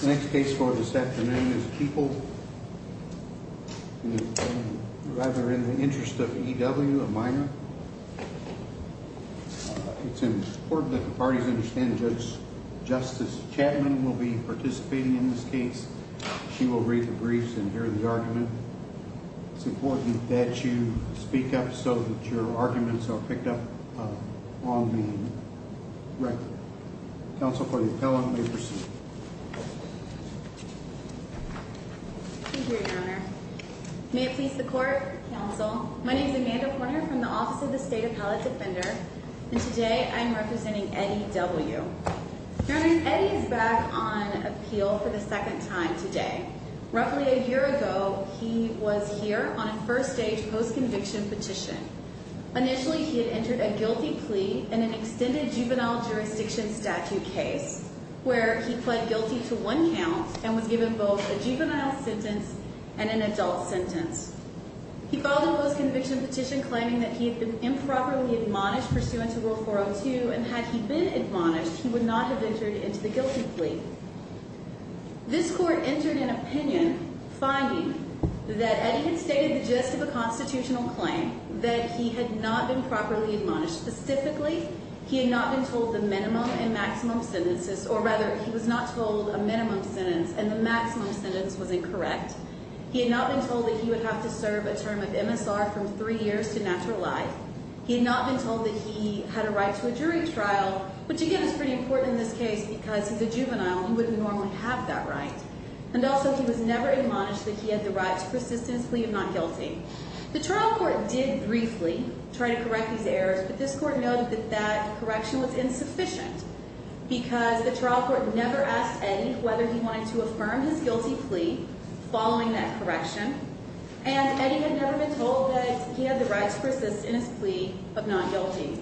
The next case for this afternoon is Keppel, rather in the interest of E.W., a minor. It's important that the parties understand Justice Chapman will be participating in this case. She will read the briefs and hear the argument. It's important that you speak up so that your arguments are picked up on the record. Counsel for the appellant may proceed. Thank you, Your Honor. May it please the Court, Counsel. My name is Amanda Horner from the Office of the State Appellate Defender, and today I am representing E.W. Your Honor, Eddie is back on appeal for the second time today. Roughly a year ago, he was here on a first-stage post-conviction petition. Initially, he had entered a guilty plea in an extended juvenile jurisdiction statute case, where he pled guilty to one count and was given both a juvenile sentence and an adult sentence. He filed a post-conviction petition claiming that he had been improperly admonished pursuant to Rule 402, and had he been admonished, he would not have entered into the guilty plea. This Court entered an opinion finding that Eddie had stated the gist of a constitutional claim, that he had not been properly admonished. Specifically, he had not been told the minimum and maximum sentences, or rather, he was not told a minimum sentence and the maximum sentence was incorrect. He had not been told that he would have to serve a term of MSR from three years to natural life. He had not been told that he had a right to a jury trial, which, again, is pretty important in this case because he's a juvenile. He wouldn't normally have that right. And also, he was never admonished that he had the right to persist in his plea of not guilty. The trial court did briefly try to correct these errors, but this Court noted that that correction was insufficient because the trial court never asked Eddie whether he wanted to affirm his guilty plea following that correction, and Eddie had never been told that he had the right to persist in his plea of not guilty.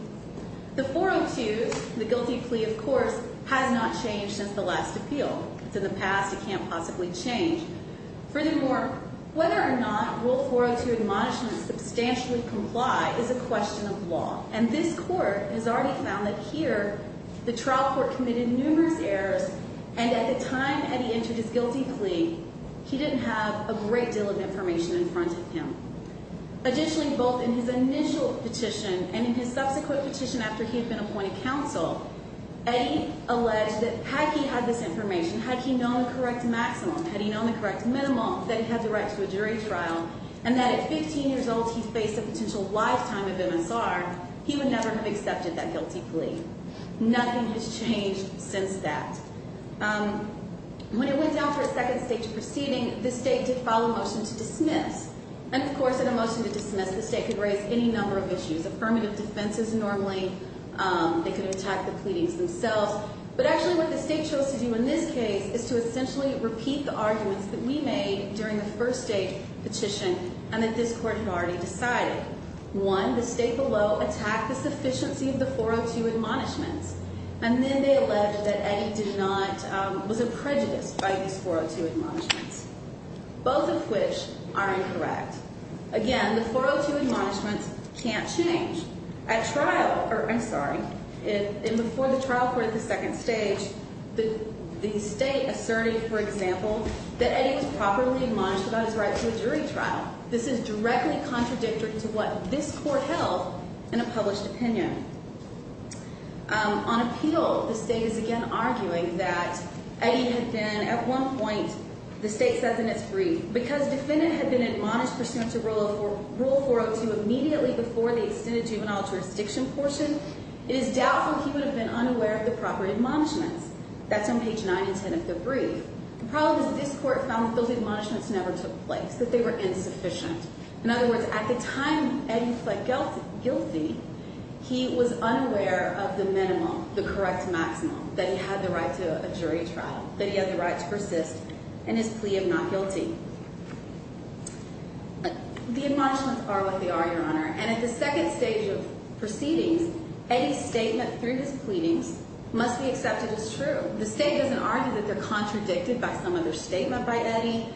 The 402, the guilty plea, of course, has not changed since the last appeal. It's in the past. It can't possibly change. Furthermore, whether or not Rule 402 admonishments substantially comply is a question of law, and this Court has already found that here, the trial court committed numerous errors, and at the time Eddie entered his guilty plea, he didn't have a great deal of information in front of him. Additionally, both in his initial petition and in his subsequent petition after he had been appointed counsel, Eddie alleged that had he had this information, had he known the correct maximum, had he known the correct minimum, that he had the right to a jury trial, and that at 15 years old, he faced a potential lifetime of MSR, he would never have accepted that guilty plea. Nothing has changed since that. When it went down for a second stage proceeding, the State did file a motion to dismiss, and, of course, in a motion to dismiss, the State could raise any number of issues. Affirmative defenses normally, they could attack the pleadings themselves, but actually what the State chose to do in this case is to essentially repeat the arguments that we made during the first stage petition and that this Court had already decided. One, the State below attacked the sufficiency of the 402 admonishments, and then they alleged that Eddie did not, was a prejudice by these 402 admonishments, both of which are incorrect. Again, the 402 admonishments can't change. At trial, or I'm sorry, and before the trial court at the second stage, the State asserted, for example, that Eddie was properly admonished about his right to a jury trial. This is directly contradictory to what this Court held in a published opinion. On appeal, the State is again arguing that Eddie had been, at one point, the State says in its brief, because defendant had been admonished pursuant to Rule 402 immediately before the extended juvenile jurisdiction portion, it is doubtful he would have been unaware of the proper admonishments. That's on page 9 and 10 of the brief. The problem is that this Court found that those admonishments never took place, that they were insufficient. In other words, at the time Eddie pled guilty, he was unaware of the minimum, the correct maximum, that he had the right to a jury trial, that he had the right to persist in his plea of not guilty. The admonishments are what they are, Your Honor, and at the second stage of proceedings, Eddie's statement through his pleadings must be accepted as true. The State doesn't argue that they're contradicted by some other statement by Eddie,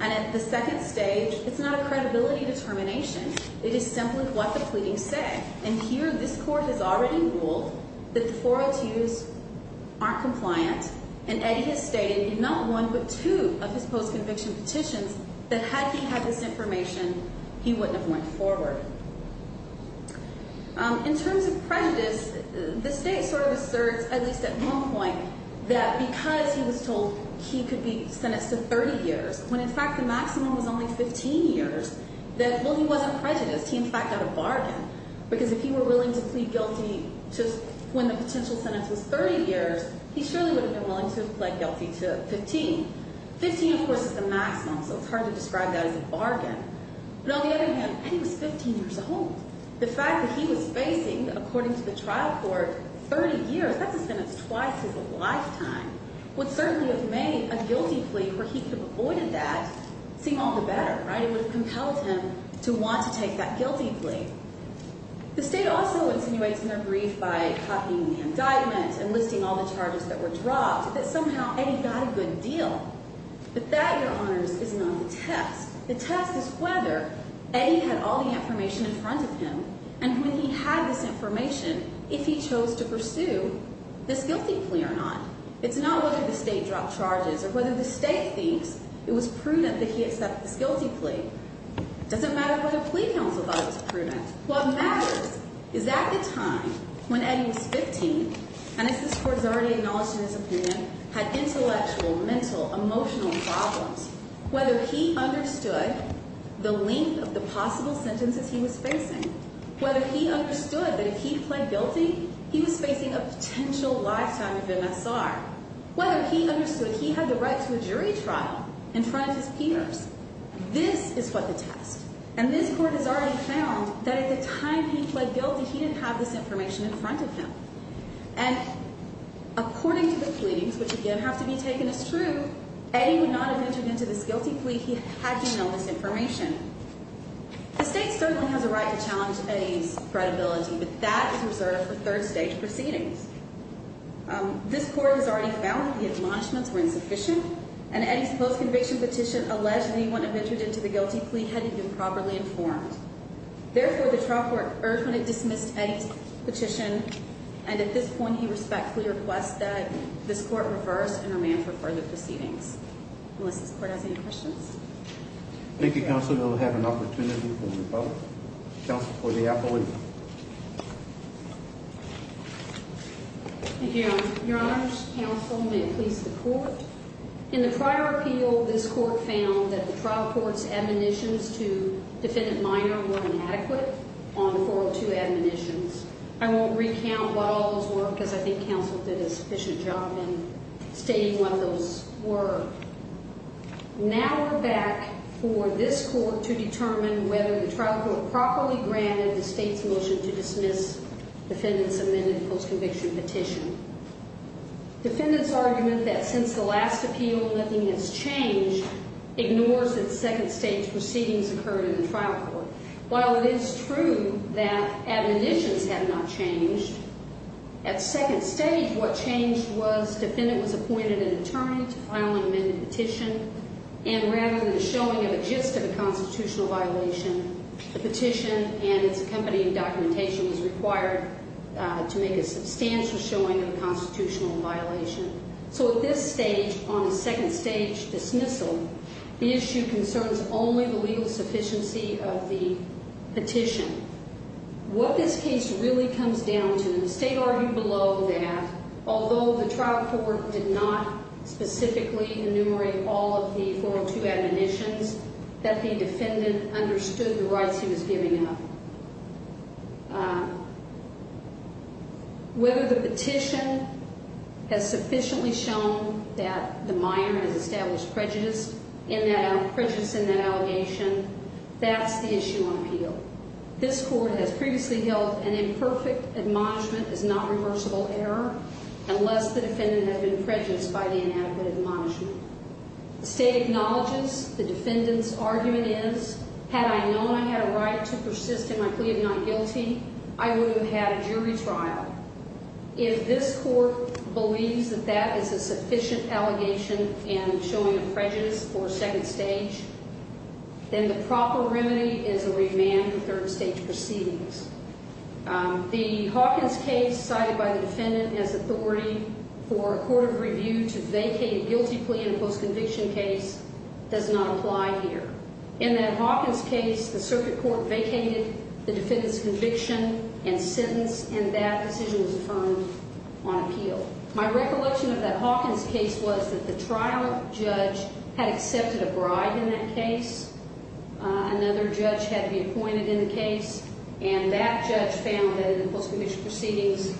and at the second stage, it's not a credibility determination. It is simply what the pleadings say. And here, this Court has already ruled that the 402s aren't compliant, and Eddie has stated in not one but two of his post-conviction petitions that had he had this information, he wouldn't have went forward. In terms of prejudice, the State sort of asserts, at least at one point, that because he was told he could be sentenced to 30 years, when in fact the maximum was only 15 years, that, well, he wasn't prejudiced. He, in fact, got a bargain, because if he were willing to plead guilty just when the potential sentence was 30 years, he surely would have been willing to plead guilty to 15. Fifteen, of course, is the maximum, so it's hard to describe that as a bargain. But on the other hand, Eddie was 15 years old. The fact that he was facing, according to the trial court, 30 years, so that's a sentence twice his lifetime, would certainly have made a guilty plea, where he could have avoided that, seem all the better, right? It would have compelled him to want to take that guilty plea. The State also insinuates in their brief by copying the indictment and listing all the charges that were dropped that somehow Eddie got a good deal. But that, Your Honors, is not the test. The test is whether Eddie had all the information in front of him, and when he had this information, if he chose to pursue this guilty plea or not. It's not whether the State dropped charges or whether the State thinks it was prudent that he accepted this guilty plea. It doesn't matter whether the plea counsel thought it was prudent. What matters is at the time when Eddie was 15, and as this Court has already acknowledged in its opinion, had intellectual, mental, emotional problems, whether he understood the length of the possible sentences he was facing, whether he understood that if he pled guilty, he was facing a potential lifetime of MSR, whether he understood he had the right to a jury trial in front of his peers. This is what the test, and this Court has already found that at the time he pled guilty, he didn't have this information in front of him. And according to the pleadings, which again have to be taken as true, Eddie would not have entered into this guilty plea had he known this information. The State certainly has a right to challenge Eddie's credibility, but that is reserved for third-stage proceedings. This Court has already found that the admonishments were insufficient, and Eddie's post-conviction petition alleged that he wouldn't have entered into the guilty plea had he been properly informed. Therefore, the trial court urged when it dismissed Eddie's petition, and at this point he respectfully requests that this Court reverse and remand for further proceedings. Unless this Court has any questions? Thank you, Counsel. We'll have an opportunity for a rebuttal. Counsel, for the appellee. Thank you, Your Honor. Your Honors, Counsel, may it please the Court. In the prior appeal, this Court found that the trial court's admonitions to defendant minor were inadequate on 402 admonitions. I won't recount what all those were because I think Counsel did a sufficient job in stating what those were. Now we're back for this Court to determine whether the trial court properly granted the State's motion to dismiss defendant's amended post-conviction petition. Defendant's argument that since the last appeal nothing has changed ignores that second-stage proceedings occurred in the trial court. While it is true that admonitions have not changed, at second stage what changed was defendant was appointed an attorney to file an amended petition, and rather than the showing of a gist of a constitutional violation, the petition and its accompanying documentation was required to make a substantial showing of a constitutional violation. So at this stage, on a second-stage dismissal, the issue concerns only the legal sufficiency of the petition. What this case really comes down to, the State argued below that although the trial court did not specifically enumerate all of the 402 admonitions, that the defendant understood the rights he was giving up. Whether the petition has sufficiently shown that the minor has established prejudice in that allegation, that's the issue on appeal. This Court has previously held an imperfect admonishment is not reversible error unless the defendant has been prejudiced by the inadequate admonishment. The State acknowledges the defendant's argument is, had I known I had a right to persist in my plea of not guilty, I would have had a jury trial. If this Court believes that that is a sufficient allegation in showing a prejudice for a second stage, then the proper remedy is a remand for third-stage proceedings. The Hawkins case cited by the defendant as authority for a court of review to vacate a guilty plea in a post-conviction case does not apply here. In that Hawkins case, the circuit court vacated the defendant's conviction and sentence, and that decision was affirmed on appeal. My recollection of that Hawkins case was that the trial judge had accepted a bribe in that case. Another judge had to be appointed in the case, and that judge found that in the post-conviction proceedings,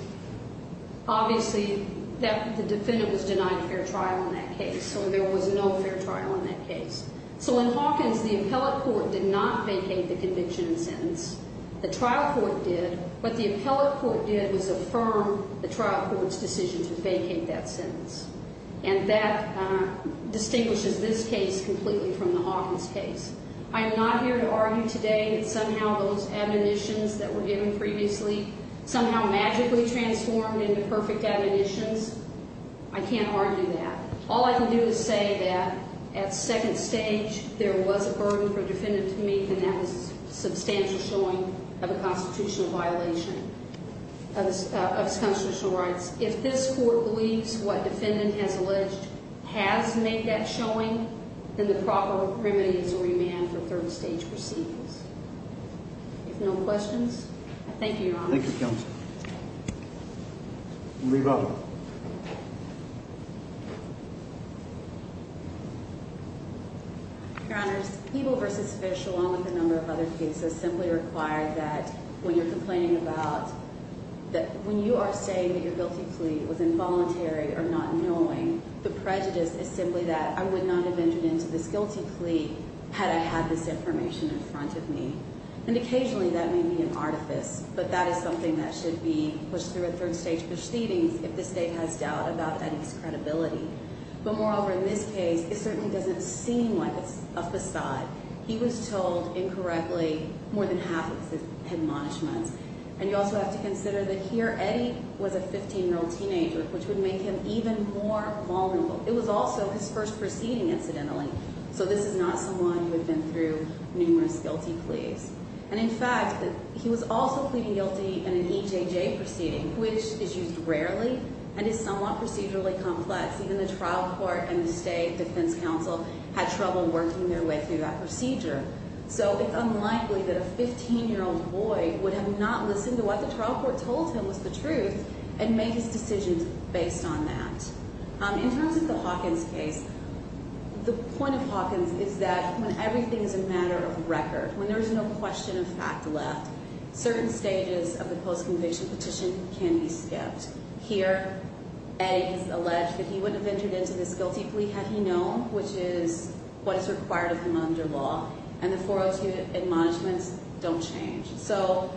obviously, that the defendant was denied a fair trial in that case. So there was no fair trial in that case. So in Hawkins, the appellate court did not vacate the conviction and sentence. The trial court did. What the appellate court did was affirm the trial court's decision to vacate that sentence. And that distinguishes this case completely from the Hawkins case. I am not here to argue today that somehow those admonitions that were given previously somehow magically transformed into perfect admonitions. I can't argue that. All I can do is say that at second stage, there was a burden for a defendant to meet, and that was a substantial showing of a constitutional violation of constitutional rights. If this court believes what defendant has alleged has made that showing, then the proper remedies will remand for third stage proceedings. If no questions, I thank you, Your Honor. Thank you, Counsel. You're very welcome. Your Honor, Evil v. Fish, along with a number of other cases, simply require that when you're complaining about, that when you are saying that your guilty plea was involuntary or not knowing, the prejudice is simply that I would not have entered into this guilty plea had I had this information in front of me. And occasionally, that may be an artifice, but that is something that should be pushed through at third stage proceedings if the State has doubt about Eddie's credibility. But moreover, in this case, it certainly doesn't seem like it's a facade. He was told incorrectly more than half of his admonishments. And you also have to consider that here, Eddie was a 15-year-old teenager, which would make him even more vulnerable. It was also his first proceeding, incidentally. So this is not someone who had been through numerous guilty pleas. And in fact, he was also pleading guilty in an EJJ proceeding, which is used rarely and is somewhat procedurally complex. Even the trial court and the State Defense Counsel had trouble working their way through that procedure. So it's unlikely that a 15-year-old boy would have not listened to what the trial court told him was the truth and made his decisions based on that. In terms of the Hawkins case, the point of Hawkins is that when everything is a matter of record, when there is no question of fact left, certain stages of the post-conviction petition can be skipped. Here, Eddie has alleged that he wouldn't have entered into this guilty plea had he known, which is what is required of him under law. And the 402 admonishments don't change. So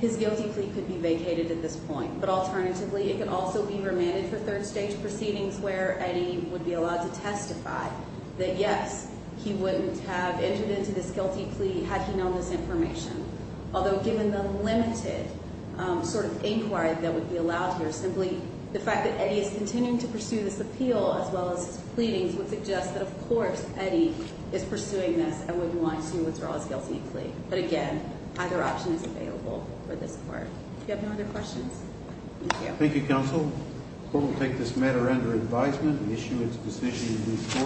his guilty plea could be vacated at this point. But alternatively, it could also be remanded for third-stage proceedings where Eddie would be allowed to testify that, yes, he wouldn't have entered into this guilty plea had he known this information. Although given the limited sort of inquiry that would be allowed here, simply the fact that Eddie is continuing to pursue this appeal as well as his pleadings would suggest that, of course, Eddie is pursuing this and would want to withdraw his guilty plea. But again, either option is available for this court. Do you have any other questions? Thank you. Thank you, counsel. The court will take this matter under advisement and issue its decision in due course.